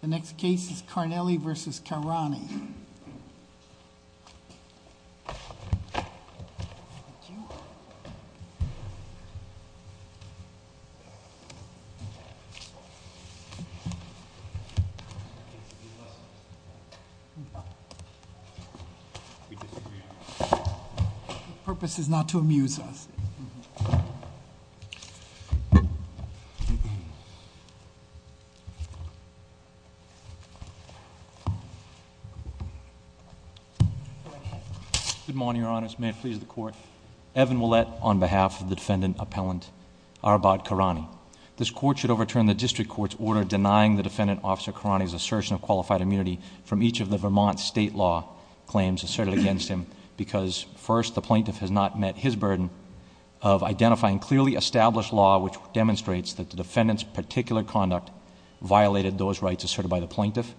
The next case is Carnelli v. Karani. The purpose is not to amuse us. Good morning, Your Honors. May it please the Court. Evan Ouellette on behalf of the defendant appellant Arbaad Karani. This court should overturn the district court's order denying the defendant officer Karani's assertion of qualified immunity from each of the Vermont state law claims asserted against him. Because first, the plaintiff has not met his burden of identifying clearly established law, which demonstrates that the defendant's particular conduct violated those rights asserted by the plaintiff.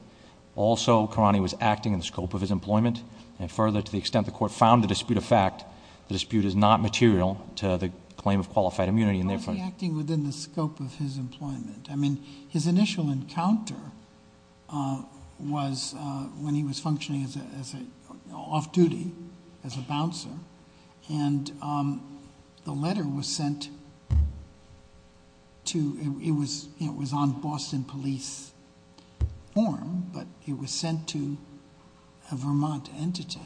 Also, Karani was acting in the scope of his employment. And further, to the extent the court found the dispute a fact, the dispute is not material to the claim of qualified immunity. And therefore- How is he acting within the scope of his employment? I mean, his initial encounter was when he was functioning off duty as a bouncer. And the letter was sent to, it was on Boston police form, but it was sent to a Vermont entity.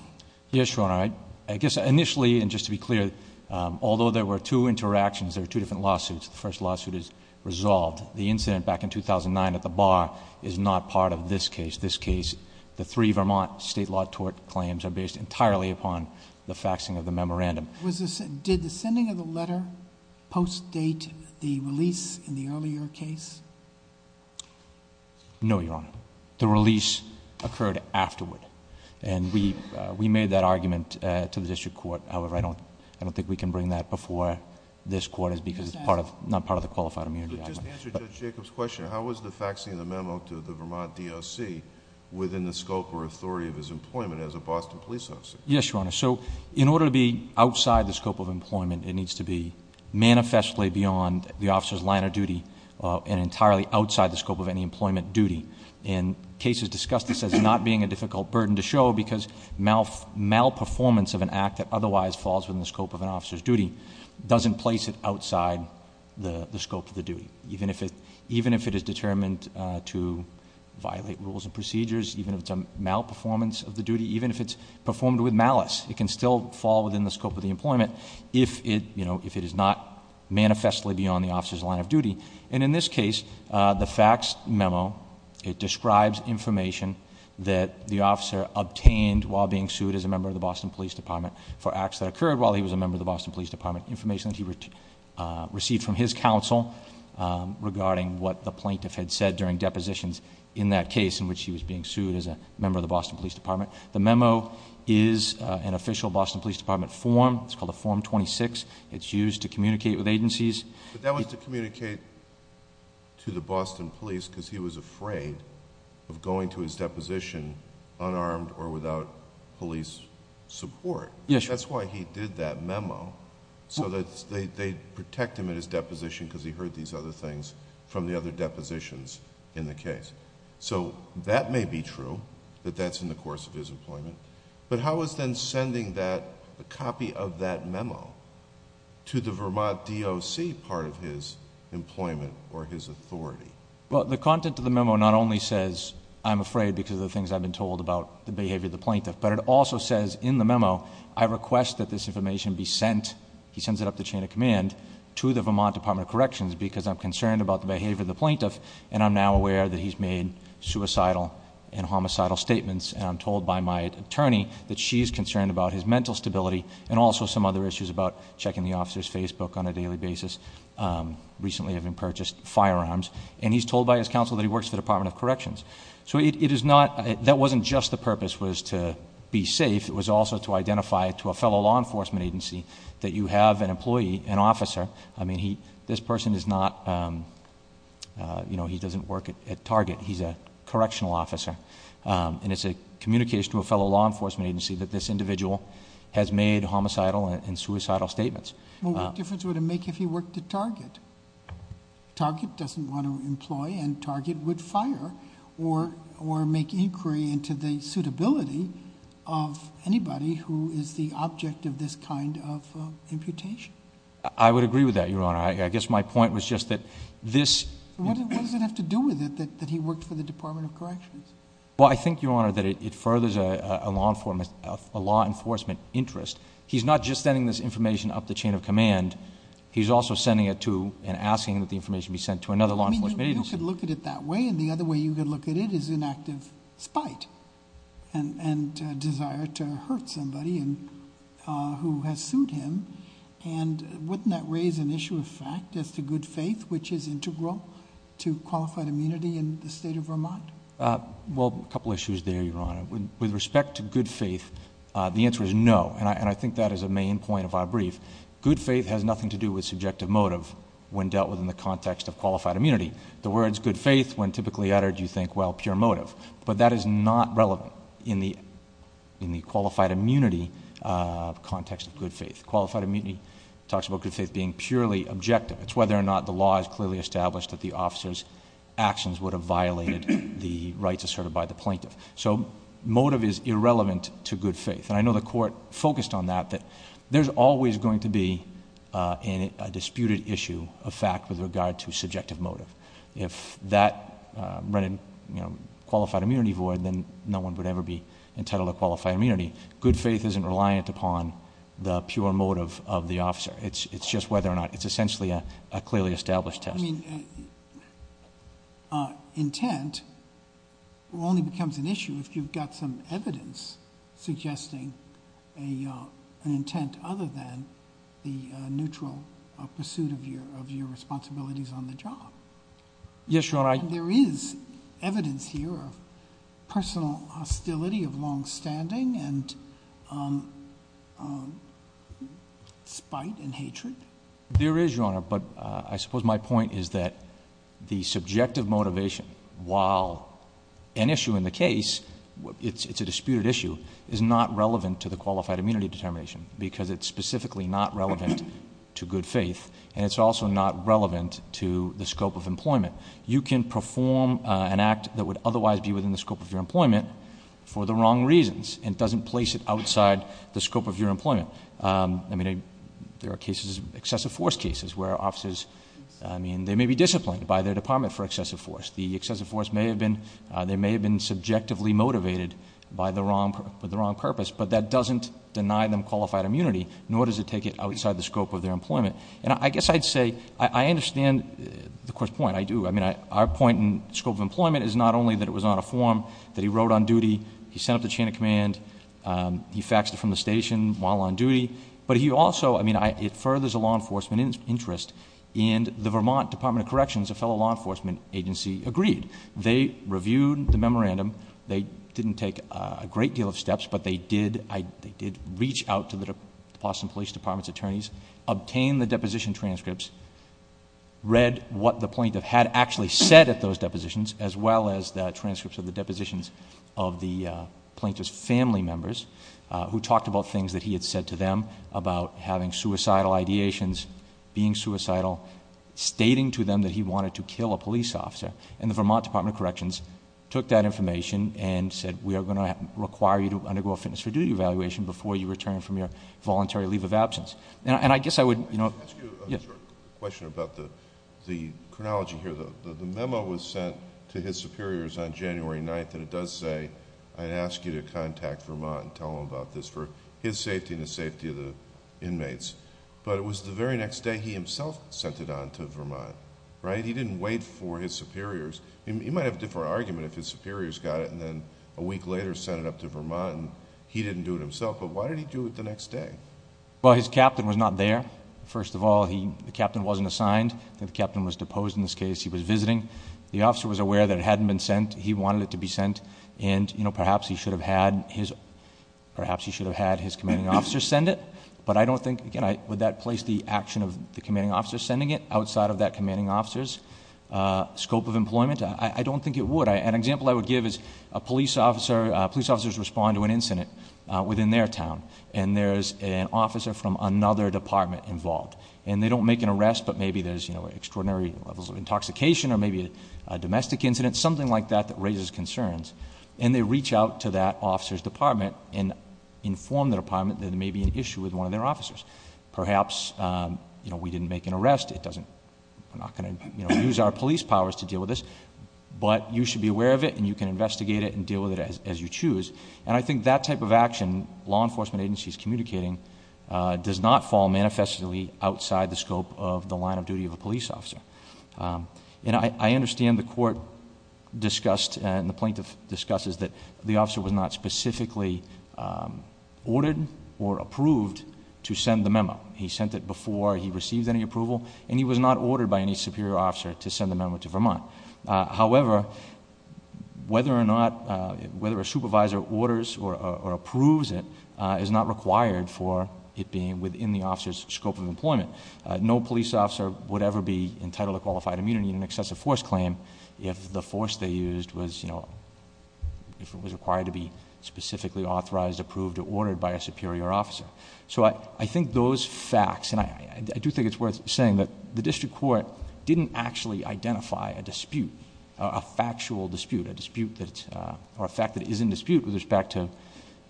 Yes, Your Honor. I guess initially, and just to be clear, although there were two interactions, there were two different lawsuits. The first lawsuit is resolved. The incident back in 2009 at the bar is not part of this case. The three Vermont state law tort claims are based entirely upon the faxing of the memorandum. Did the sending of the letter post-date the release in the earlier case? No, Your Honor. The release occurred afterward. And we made that argument to the district court. However, I don't think we can bring that before this court because it's not part of the qualified immunity argument. But just to answer Judge Jacob's question, how was the faxing of the memo to the Vermont DOC within the scope or authority of his employment as a Boston police officer? Yes, Your Honor. So in order to be outside the scope of employment, it needs to be manifestly beyond the officer's line of duty and entirely outside the scope of any employment duty. And cases discussed this as not being a difficult burden to show because malperformance of an act that otherwise falls within the scope of an officer's duty doesn't place it outside the scope of the duty, even if it is determined to violate rules and procedures, even if it's a malperformance of the duty, even if it's performed with malice. It can still fall within the scope of the employment if it is not manifestly beyond the officer's line of duty. And in this case, the fax memo, it describes information that the officer obtained while being sued as a member of the Boston Police Department for acts that occurred while he was a member of the Boston Police Department, information that he received from his counsel regarding what the plaintiff had said during depositions in that case in which he was being sued as a member of the Boston Police Department. The memo is an official Boston Police Department form, it's called a form 26, it's used to communicate with agencies. But that was to communicate to the Boston police because he was afraid of going to his deposition unarmed or without police support. That's why he did that memo, so that they'd protect him at his deposition because he heard these other things from the other depositions in the case. So that may be true, that that's in the course of his employment. But how is then sending that, a copy of that memo, to the Vermont DOC part of his employment or his authority? Well, the content of the memo not only says, I'm afraid because of the things I've been told about the behavior of the plaintiff. But it also says in the memo, I request that this information be sent, he sends it up the chain of command, to the Vermont Department of Corrections because I'm concerned about the behavior of the plaintiff. And I'm now aware that he's made suicidal and homicidal statements. And I'm told by my attorney that she's concerned about his mental stability and also some other issues about checking the officer's Facebook on a daily basis, recently having purchased firearms. And he's told by his counsel that he works for the Department of Corrections. So it is not, that wasn't just the purpose was to be safe, it was also to identify to a fellow law enforcement agency that you have an employee, an officer. I mean, this person is not, he doesn't work at Target, he's a correctional officer. And it's a communication to a fellow law enforcement agency that this individual has made homicidal and suicidal statements. Well, what difference would it make if he worked at Target? Target doesn't want to employ and Target would fire or make inquiry into the suitability of anybody who is the object of this kind of imputation. I would agree with that, Your Honor. I guess my point was just that this- What does it have to do with it that he worked for the Department of Corrections? Well, I think, Your Honor, that it furthers a law enforcement interest. He's not just sending this information up the chain of command. He's also sending it to and asking that the information be sent to another law enforcement agency. You could look at it that way, and the other way you could look at it is in active spite and great desire to hurt somebody who has sued him. And wouldn't that raise an issue of fact as to good faith, which is integral to qualified immunity in the state of Vermont? Well, a couple issues there, Your Honor. With respect to good faith, the answer is no, and I think that is a main point of our brief. Good faith has nothing to do with subjective motive when dealt with in the context of qualified immunity. The words good faith, when typically uttered, you think, well, pure motive. But that is not relevant in the qualified immunity context of good faith. Qualified immunity talks about good faith being purely objective. It's whether or not the law is clearly established that the officer's actions would have violated the rights asserted by the plaintiff. So motive is irrelevant to good faith. And I know the court focused on that, that there's always going to be a disputed issue of fact with regard to subjective motive. If that ran in qualified immunity void, then no one would ever be entitled to qualified immunity. Good faith isn't reliant upon the pure motive of the officer. It's just whether or not, it's essentially a clearly established test. I mean, intent only becomes an issue if you've got some evidence suggesting an intent other than the neutral pursuit of your responsibilities on the job. Yes, Your Honor, I- There is evidence here of personal hostility of long standing and spite and hatred. There is, Your Honor, but I suppose my point is that the subjective motivation, while an issue in the case, it's a disputed issue, is not relevant to the qualified immunity determination, because it's specifically not relevant to good faith. And it's also not relevant to the scope of employment. You can perform an act that would otherwise be within the scope of your employment for the wrong reasons. It doesn't place it outside the scope of your employment. I mean, there are cases, excessive force cases, where officers, I mean, they may be disciplined by their department for excessive force. The excessive force may have been, they may have been subjectively motivated for the wrong purpose. But that doesn't deny them qualified immunity, nor does it take it outside the scope of their employment. And I guess I'd say, I understand the court's point, I do. I mean, our point in scope of employment is not only that it was on a form that he wrote on duty, he sent up the chain of command, he faxed it from the station while on duty. But he also, I mean, it furthers a law enforcement interest. And the Vermont Department of Corrections, a fellow law enforcement agency, agreed. They reviewed the memorandum. They didn't take a great deal of steps, but they did reach out to the Boston Police Department's attorneys, obtained the deposition transcripts, read what the plaintiff had actually said at those depositions, as well as the transcripts of the depositions of the plaintiff's family members, who talked about things that he had said to them about having suicidal ideations, being suicidal. Stating to them that he wanted to kill a police officer. And the Vermont Department of Corrections took that information and said, we are going to require you to undergo a fitness for duty evaluation before you return from your voluntary leave of absence. And I guess I would- Yes. I have a question about the chronology here. The memo was sent to his superiors on January 9th, and it does say, I'd ask you to contact Vermont and tell them about this for his safety and the safety of the inmates. But it was the very next day he himself sent it on to Vermont, right? He didn't wait for his superiors. He might have a different argument if his superiors got it and then a week later sent it up to Vermont and he didn't do it himself. But why did he do it the next day? Well, his captain was not there. First of all, the captain wasn't assigned. The captain was deposed in this case. He was visiting. The officer was aware that it hadn't been sent. He wanted it to be sent. And perhaps he should have had his commanding officer send it. But I don't think, again, would that place the action of the commanding officer sending it outside of that commanding officer's scope of employment? I don't think it would. An example I would give is a police officer, police officers respond to an incident within their town. And there's an officer from another department involved. And they don't make an arrest, but maybe there's extraordinary levels of intoxication or maybe a domestic incident, something like that that raises concerns. And they reach out to that officer's department and inform the department that there may be an issue with one of their officers. Perhaps we didn't make an arrest, we're not going to use our police powers to deal with this. But you should be aware of it and you can investigate it and deal with it as you choose. And I think that type of action law enforcement agencies communicating does not fall manifestly outside the scope of the line of duty of a police officer. And I understand the court discussed and the plaintiff discusses that the officer was not specifically ordered or approved to send the memo. He sent it before he received any approval and he was not ordered by any superior officer to send the memo to Vermont. However, whether or not a supervisor orders or approves it is not required for it being within the officer's scope of employment. No police officer would ever be entitled to qualified immunity in an excessive force claim if the force they used was, if it was required to be specifically authorized, approved, or ordered by a superior officer. So I think those facts, and I do think it's worth saying that the district court didn't actually identify a dispute, a factual dispute, a dispute that, or a fact that is in dispute with respect to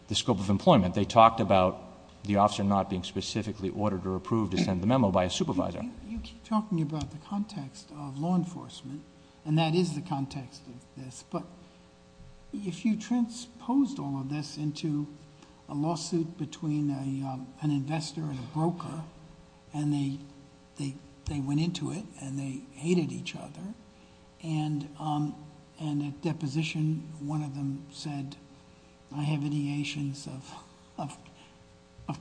the scope of employment. They talked about the officer not being specifically ordered or approved to send the memo by a supervisor. You keep talking about the context of law enforcement, and that is the context of this. But if you transposed all of this into a lawsuit between an investor and an employer, and they went into it, and they hated each other. And at deposition, one of them said, I have ideations of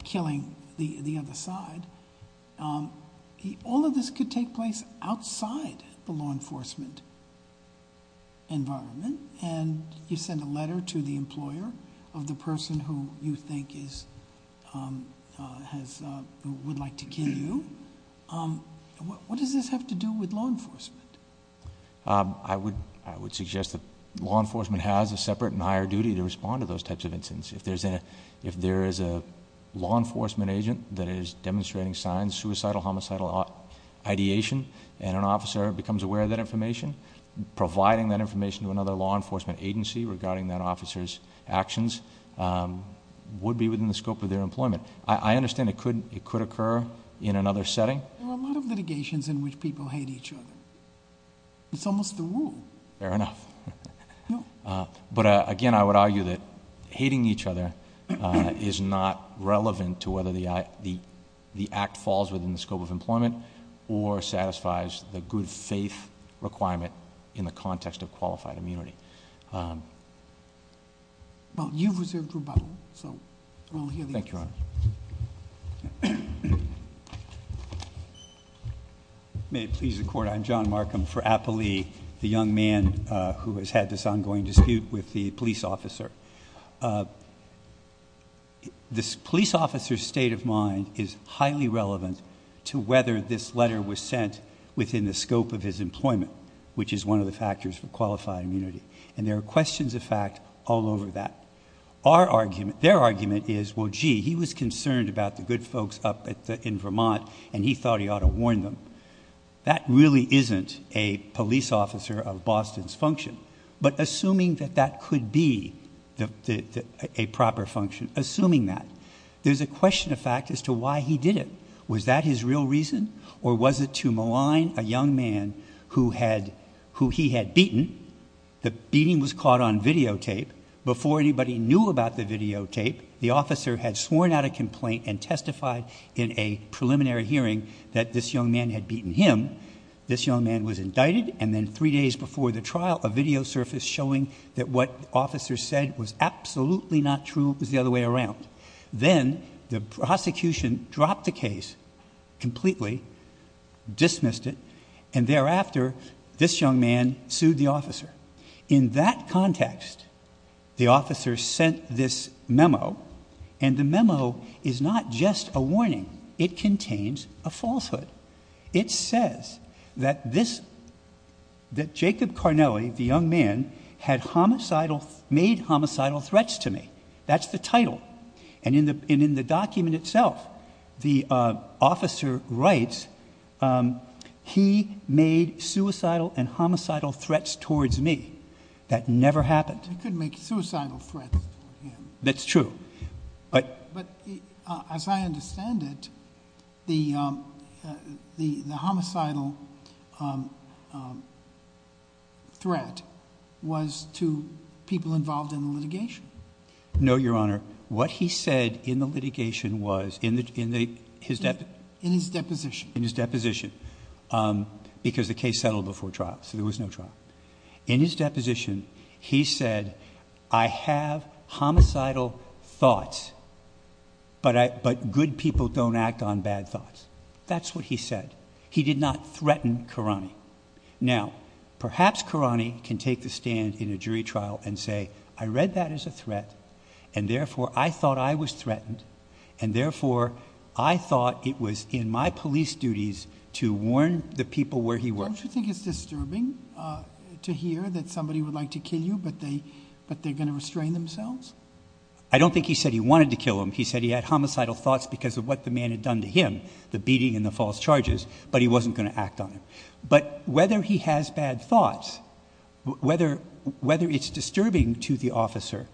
killing the other side. All of this could take place outside the law enforcement environment. And you send a letter to the employer of the person who you think is, has, who would like to kill you, what does this have to do with law enforcement? I would suggest that law enforcement has a separate and higher duty to respond to those types of incidents. If there is a law enforcement agent that is demonstrating signs, suicidal, homicidal ideation, and an officer becomes aware of that information, providing that information to another law enforcement agency regarding that officer's actions would be within the scope of their employment. I understand it could occur in another setting. There are a lot of litigations in which people hate each other. It's almost the rule. Fair enough. But again, I would argue that hating each other is not relevant to whether the act falls within the scope of employment or satisfies the good faith requirement in the context of qualified immunity. Well, you've reserved your button, so we'll hear the answer. Thank you, Your Honor. May it please the court, I'm John Markham for Appalee, the young man who has had this ongoing dispute with the police officer. This police officer's state of mind is highly relevant to whether this letter was sent within the scope of his employment, which is one of the factors for qualified immunity, and there are questions of fact all over that. Their argument is, well, gee, he was concerned about the good folks up in Vermont, and he thought he ought to warn them. That really isn't a police officer of Boston's function. But assuming that that could be a proper function, assuming that, there's a question of fact as to why he did it, was that his real reason? Or was it to malign a young man who he had beaten? The beating was caught on videotape. Before anybody knew about the videotape, the officer had sworn out a complaint and testified in a preliminary hearing that this young man had beaten him. This young man was indicted, and then three days before the trial, a video surfaced showing that what the officer said was absolutely not true, it was the other way around. Then the prosecution dropped the case completely, dismissed it, and thereafter, this young man sued the officer. In that context, the officer sent this memo, and the memo is not just a warning, it contains a falsehood. It says that this, that Jacob Carnelli, the young man, had made homicidal threats to me. That's the title. And in the document itself, the officer writes, he made suicidal and homicidal threats towards me. That never happened. You couldn't make suicidal threats to him. That's true. But- But as I understand it, the homicidal threat was to people involved in the litigation. No, your honor. What he said in the litigation was, in his deposition. In his deposition, because the case settled before trial, so there was no trial. In his deposition, he said, I have homicidal thoughts, but good people don't act on bad thoughts. That's what he said. He did not threaten Carani. Now, perhaps Carani can take the stand in a jury trial and say, I read that as a threat. And therefore, I thought I was threatened. And therefore, I thought it was in my police duties to warn the people where he worked. Don't you think it's disturbing to hear that somebody would like to kill you, but they're going to restrain themselves? I don't think he said he wanted to kill him. He said he had homicidal thoughts because of what the man had done to him. The beating and the false charges, but he wasn't going to act on it. But whether he has bad thoughts, whether it's disturbing to the officer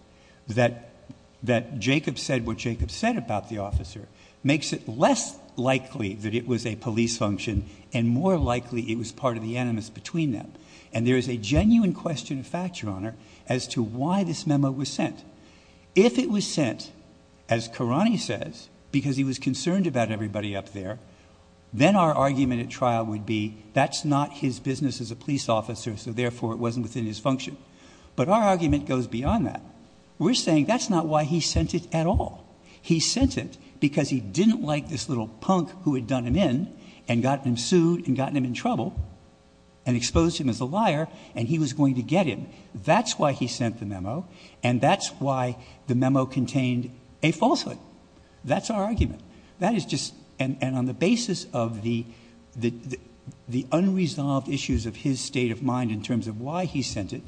that Jacob said what Jacob said about the officer makes it less likely that it was a police function and more likely it was part of the animus between them. And there is a genuine question of fact, your honor, as to why this memo was sent. If it was sent, as Carani says, because he was concerned about everybody up there, then our argument at trial would be that's not his business as a police officer, so therefore it wasn't within his function. But our argument goes beyond that. We're saying that's not why he sent it at all. He sent it because he didn't like this little punk who had done him in and got him sued and gotten him in trouble and exposed him as a liar and he was going to get him. That's why he sent the memo and that's why the memo contained a falsehood. That's our argument. That is just, and on the basis of the unresolved issues of his state of mind in terms of why he sent it,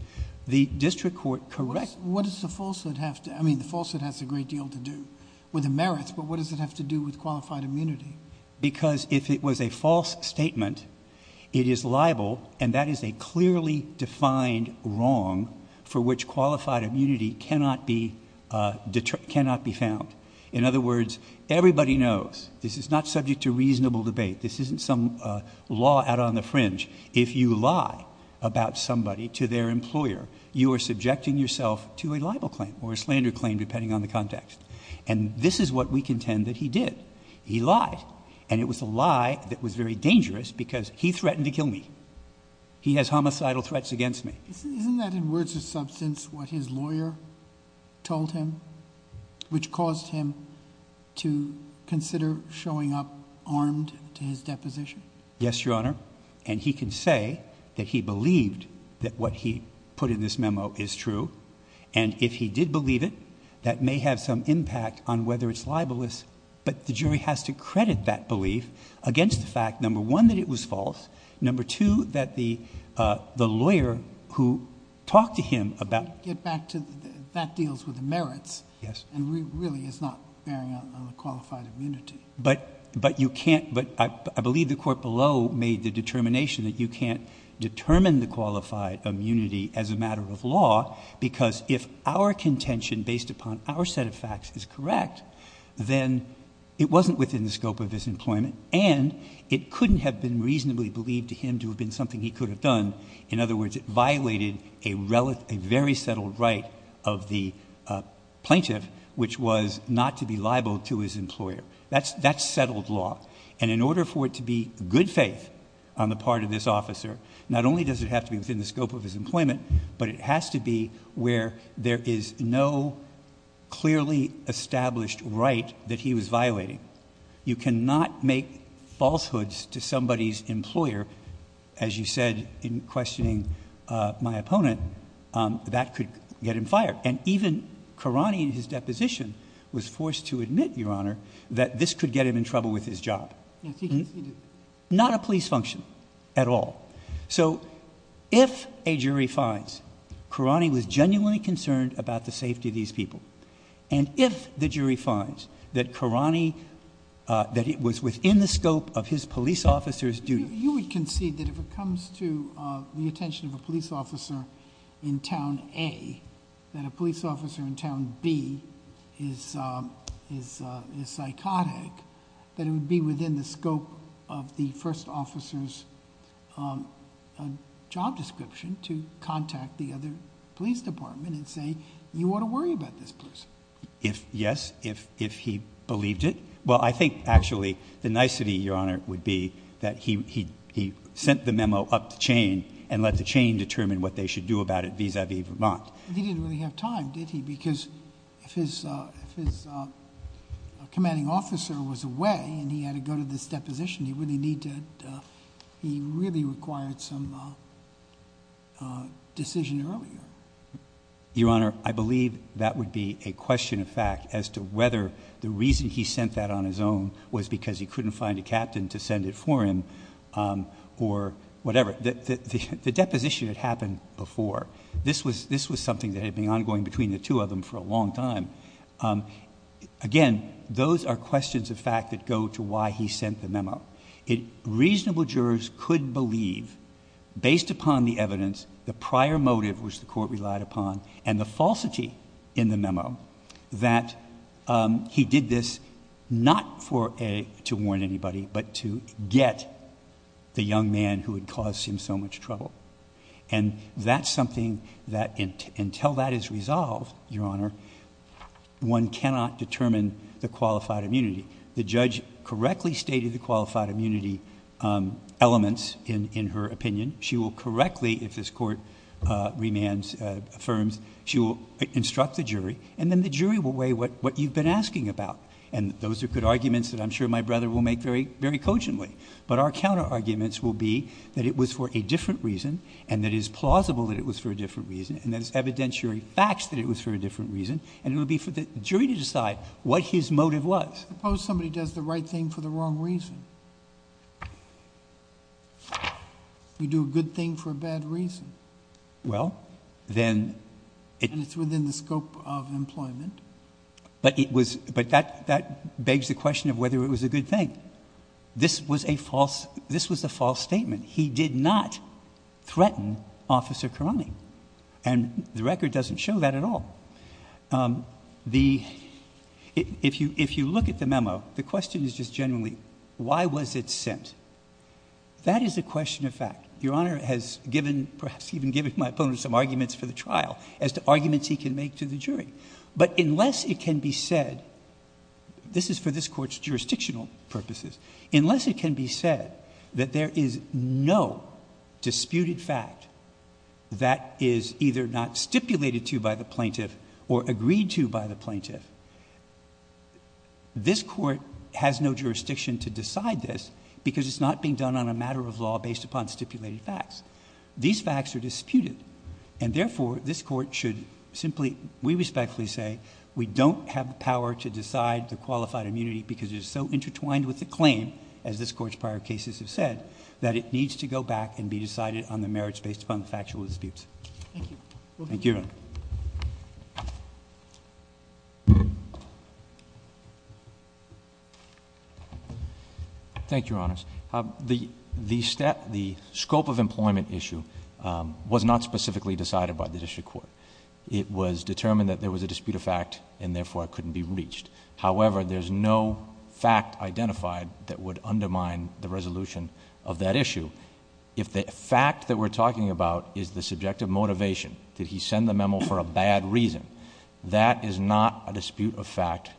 the district court corrects. What does the falsehood have to, I mean the falsehood has a great deal to do with the merits, but what does it have to do with qualified immunity? Because if it was a false statement, it is liable and that is a clearly defined wrong for which qualified immunity cannot be found. In other words, everybody knows, this is not subject to reasonable debate, this isn't some law out on the fringe. If you lie about somebody to their employer, you are subjecting yourself to a liable claim or a slander claim depending on the context. And this is what we contend that he did. He lied. And it was a lie that was very dangerous because he threatened to kill me. He has homicidal threats against me. Isn't that in words of substance what his lawyer told him, which caused him to consider showing up armed to his deposition? Yes, your honor. And he can say that he believed that what he put in this memo is true. And if he did believe it, that may have some impact on whether it's libelous. But the jury has to credit that belief against the fact, number one, that it was false. Number two, that the lawyer who talked to him about- Get back to, that deals with the merits. Yes. And really is not bearing on the qualified immunity. But you can't, but I believe the court below made the determination that you can't have unqualified immunity as a matter of law because if our contention based upon our set of facts is correct, then it wasn't within the scope of his employment and it couldn't have been reasonably believed to him to have been something he could have done. In other words, it violated a very settled right of the plaintiff, which was not to be liable to his employer, that's settled law. And in order for it to be good faith on the part of this officer, not only does it have to be within the scope of his employment, but it has to be where there is no clearly established right that he was violating. You cannot make falsehoods to somebody's employer, as you said in questioning my opponent, that could get him fired. And even Karani in his deposition was forced to admit, Your Honor, that this could get him in trouble with his job. Yes, he did. Not a police function at all. So if a jury finds Karani was genuinely concerned about the safety of these people, and if the jury finds that Karani, that it was within the scope of his police officer's duty. You would concede that if it comes to the attention of a police officer in Town A, that a police officer in Town B is psychotic, that it would be within the scope of the first officer's job description to contact the other police department and say, you ought to worry about this person. Yes, if he believed it. Well, I think, actually, the nicety, Your Honor, would be that he sent the memo up the chain, and let the chain determine what they should do about it vis-a-vis Vermont. He didn't really have time, did he? Because if his commanding officer was away, and he had to go to this deposition, he really required some decision earlier. Your Honor, I believe that would be a question of fact as to whether the reason he sent that on his own was because he couldn't find a captain to send it for him, or whatever. The deposition had happened before. This was something that had been ongoing between the two of them for a long time. Again, those are questions of fact that go to why he sent the memo. Reasonable jurors could believe, based upon the evidence, the prior motive which the court relied upon, and the falsity in the memo, that he did this not to warn anybody, but to get the young man who had caused him so much trouble. And that's something that, until that is resolved, Your Honor, one cannot determine the qualified immunity. The judge correctly stated the qualified immunity elements in her opinion. She will correctly, if this court remands, affirms, she will instruct the jury. And then the jury will weigh what you've been asking about. And those are good arguments that I'm sure my brother will make very cogently. But our counter arguments will be that it was for a different reason, and that it is plausible that it was for a different reason. And that it's evidentiary facts that it was for a different reason. And it would be for the jury to decide what his motive was. I suppose somebody does the right thing for the wrong reason. You do a good thing for a bad reason. Well, then- And it's within the scope of employment. But it was, but that begs the question of whether it was a good thing. This was a false, this was a false statement. He did not threaten Officer Karame. And the record doesn't show that at all. The, if you look at the memo, the question is just generally, why was it sent? That is a question of fact. Your Honor has given, perhaps even given my opponent some arguments for the trial as to arguments he can make to the jury. But unless it can be said, this is for this court's jurisdictional purposes. Unless it can be said that there is no disputed fact that is either not stipulated to by the plaintiff or agreed to by the plaintiff. This court has no jurisdiction to decide this because it's not being done on a matter of law based upon stipulated facts. These facts are disputed. And therefore, this court should simply, we respectfully say, we don't have the power to decide the qualified immunity. Because it is so intertwined with the claim, as this court's prior cases have said, that it needs to go back and be decided on the merits based upon the factual disputes. Thank you. Go ahead. Thank you, Your Honor. Thank you, Your Honors. The scope of employment issue was not specifically decided by the district court. It was determined that there was a dispute of fact and therefore it couldn't be reached. However, there's no fact identified that would undermine the resolution of that issue. If the fact that we're talking about is the subjective motivation, did he send the memo for a bad reason? That is not a dispute of fact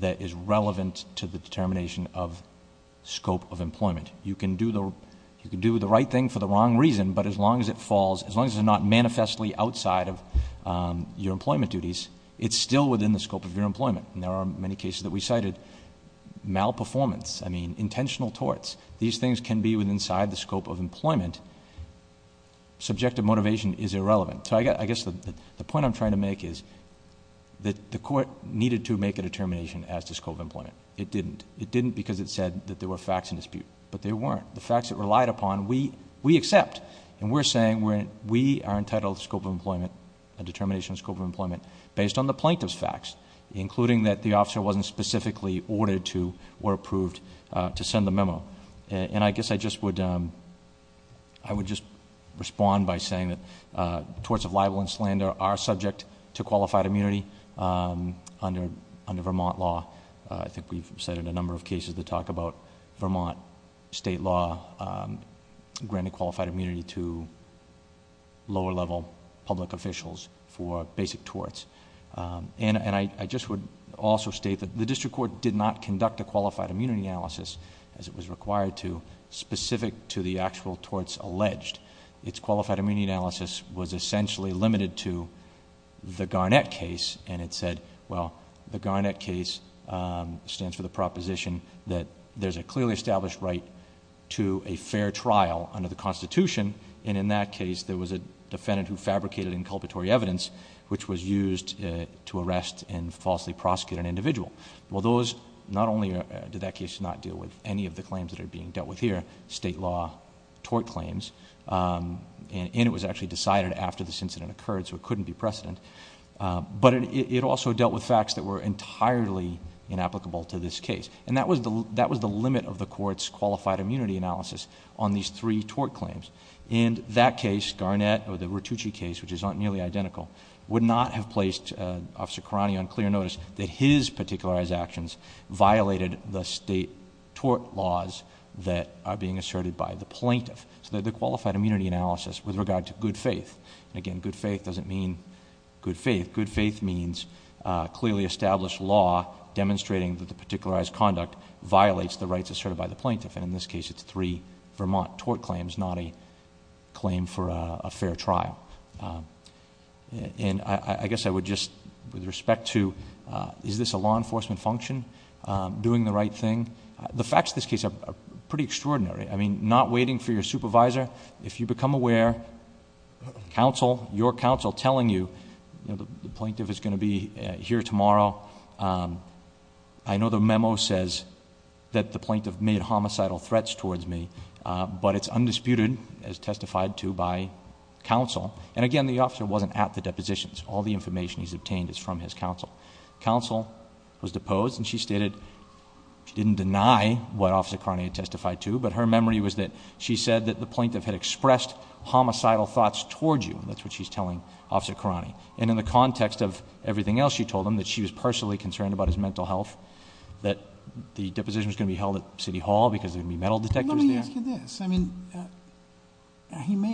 that is relevant to the determination of scope of employment. You can do the right thing for the wrong reason, but as long as it falls, as long as it's not manifestly outside of your employment duties, it's still within the scope of your employment. And there are many cases that we cited, malperformance, I mean, intentional torts. These things can be inside the scope of employment. Subjective motivation is irrelevant. So I guess the point I'm trying to make is that the court needed to make a determination as to scope of employment. It didn't. It didn't because it said that there were facts in dispute, but there weren't. The facts it relied upon, we accept. And we're saying we are entitled to scope of employment, a determination of scope of employment, based on the plaintiff's facts, including that the officer wasn't specifically ordered to or approved to send the memo. And I guess I would just respond by saying that torts of libel and slander are subject to qualified immunity under Vermont law. I think we've cited a number of cases that talk about Vermont state law granting qualified immunity to lower level public officials for basic torts. And I just would also state that the district court did not conduct a qualified immunity analysis, as it was required to, specific to the actual torts alleged. Its qualified immunity analysis was essentially limited to the Garnett case, and it said, well, the Garnett case stands for the proposition that there's a clearly established right to a fair trial under the Constitution, and in that case, there was a defendant who fabricated inculpatory evidence, which was used to arrest and falsely prosecute an individual. Well, those, not only did that case not deal with any of the claims that are being dealt with here, state law tort claims, and it was actually decided after this incident occurred, so it couldn't be precedent. But it also dealt with facts that were entirely inapplicable to this case. And that was the limit of the court's qualified immunity analysis on these three tort claims. In that case, Garnett, or the Ratucci case, which is not nearly identical, would not have placed Officer Carani on clear notice that his particularized actions violated the state tort laws that are being asserted by the plaintiff. So that the qualified immunity analysis, with regard to good faith, and again, good faith doesn't mean good faith. Good faith means clearly established law demonstrating that the particularized conduct violates the rights asserted by the plaintiff. And in this case, it's three Vermont tort claims, not a claim for a fair trial. And I guess I would just, with respect to, is this a law enforcement function, doing the right thing? The facts of this case are pretty extraordinary. I mean, not waiting for your supervisor. If you become aware, your counsel telling you, the plaintiff is going to be here tomorrow. I know the memo says that the plaintiff made homicidal threats towards me, but it's undisputed, as testified to by counsel. And again, the officer wasn't at the depositions. All the information he's obtained is from his counsel. Counsel was deposed, and she stated, she didn't deny what Officer Carani had testified to, but her memory was that she said that the plaintiff had expressed homicidal thoughts towards you, and that's what she's telling Officer Carani. And in the context of everything else she told him, that she was personally concerned about his mental health, that the deposition was going to be held at City Hall because there would be metal detectors there. Let me ask you this. I mean, he may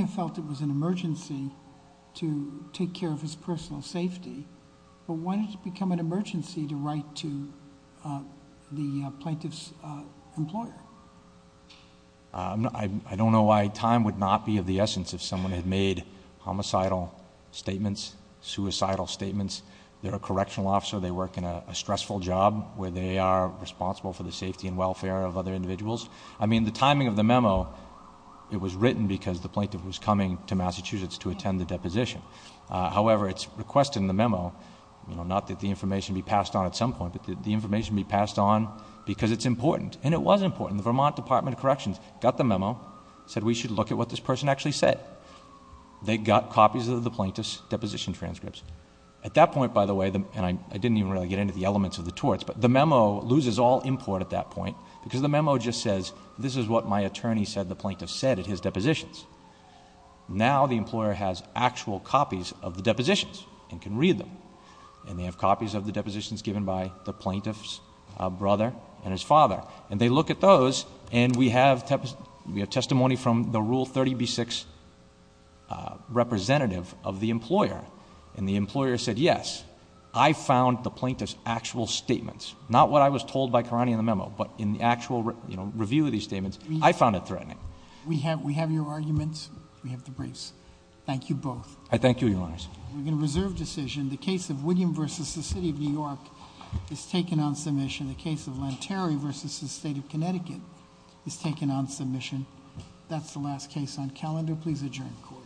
have felt it was an emergency to take care of his personal safety. But why did it become an emergency to write to the plaintiff's employer? I don't know why time would not be of the essence if someone had made homicidal statements, suicidal statements. They're a correctional officer, they work in a stressful job where they are responsible for the safety and welfare of other individuals. I mean, the timing of the memo, it was written because the plaintiff was coming to Massachusetts to attend the deposition. However, it's requested in the memo, not that the information be passed on at some point, but that the information be passed on because it's important, and it was important. The Vermont Department of Corrections got the memo, said we should look at what this person actually said. They got copies of the plaintiff's deposition transcripts. At that point, by the way, and I didn't even really get into the elements of the torts, but the memo loses all import at that point, because the memo just says, this is what my attorney said the plaintiff said at his depositions. Now, the employer has actual copies of the depositions and can read them. And they have copies of the depositions given by the plaintiff's brother and his father. And they look at those, and we have testimony from the Rule 30b-6 representative of the employer. And the employer said, yes, I found the plaintiff's actual statements. Not what I was told by Karani in the memo, but in the actual review of these statements, I found it threatening. We have your arguments. We have the briefs. Thank you both. I thank you, your honors. We're going to reserve decision. The case of William versus the city of New York is taken on submission. The case of Lanterry versus the state of Connecticut is taken on submission. That's the last case on calendar. Please adjourn court.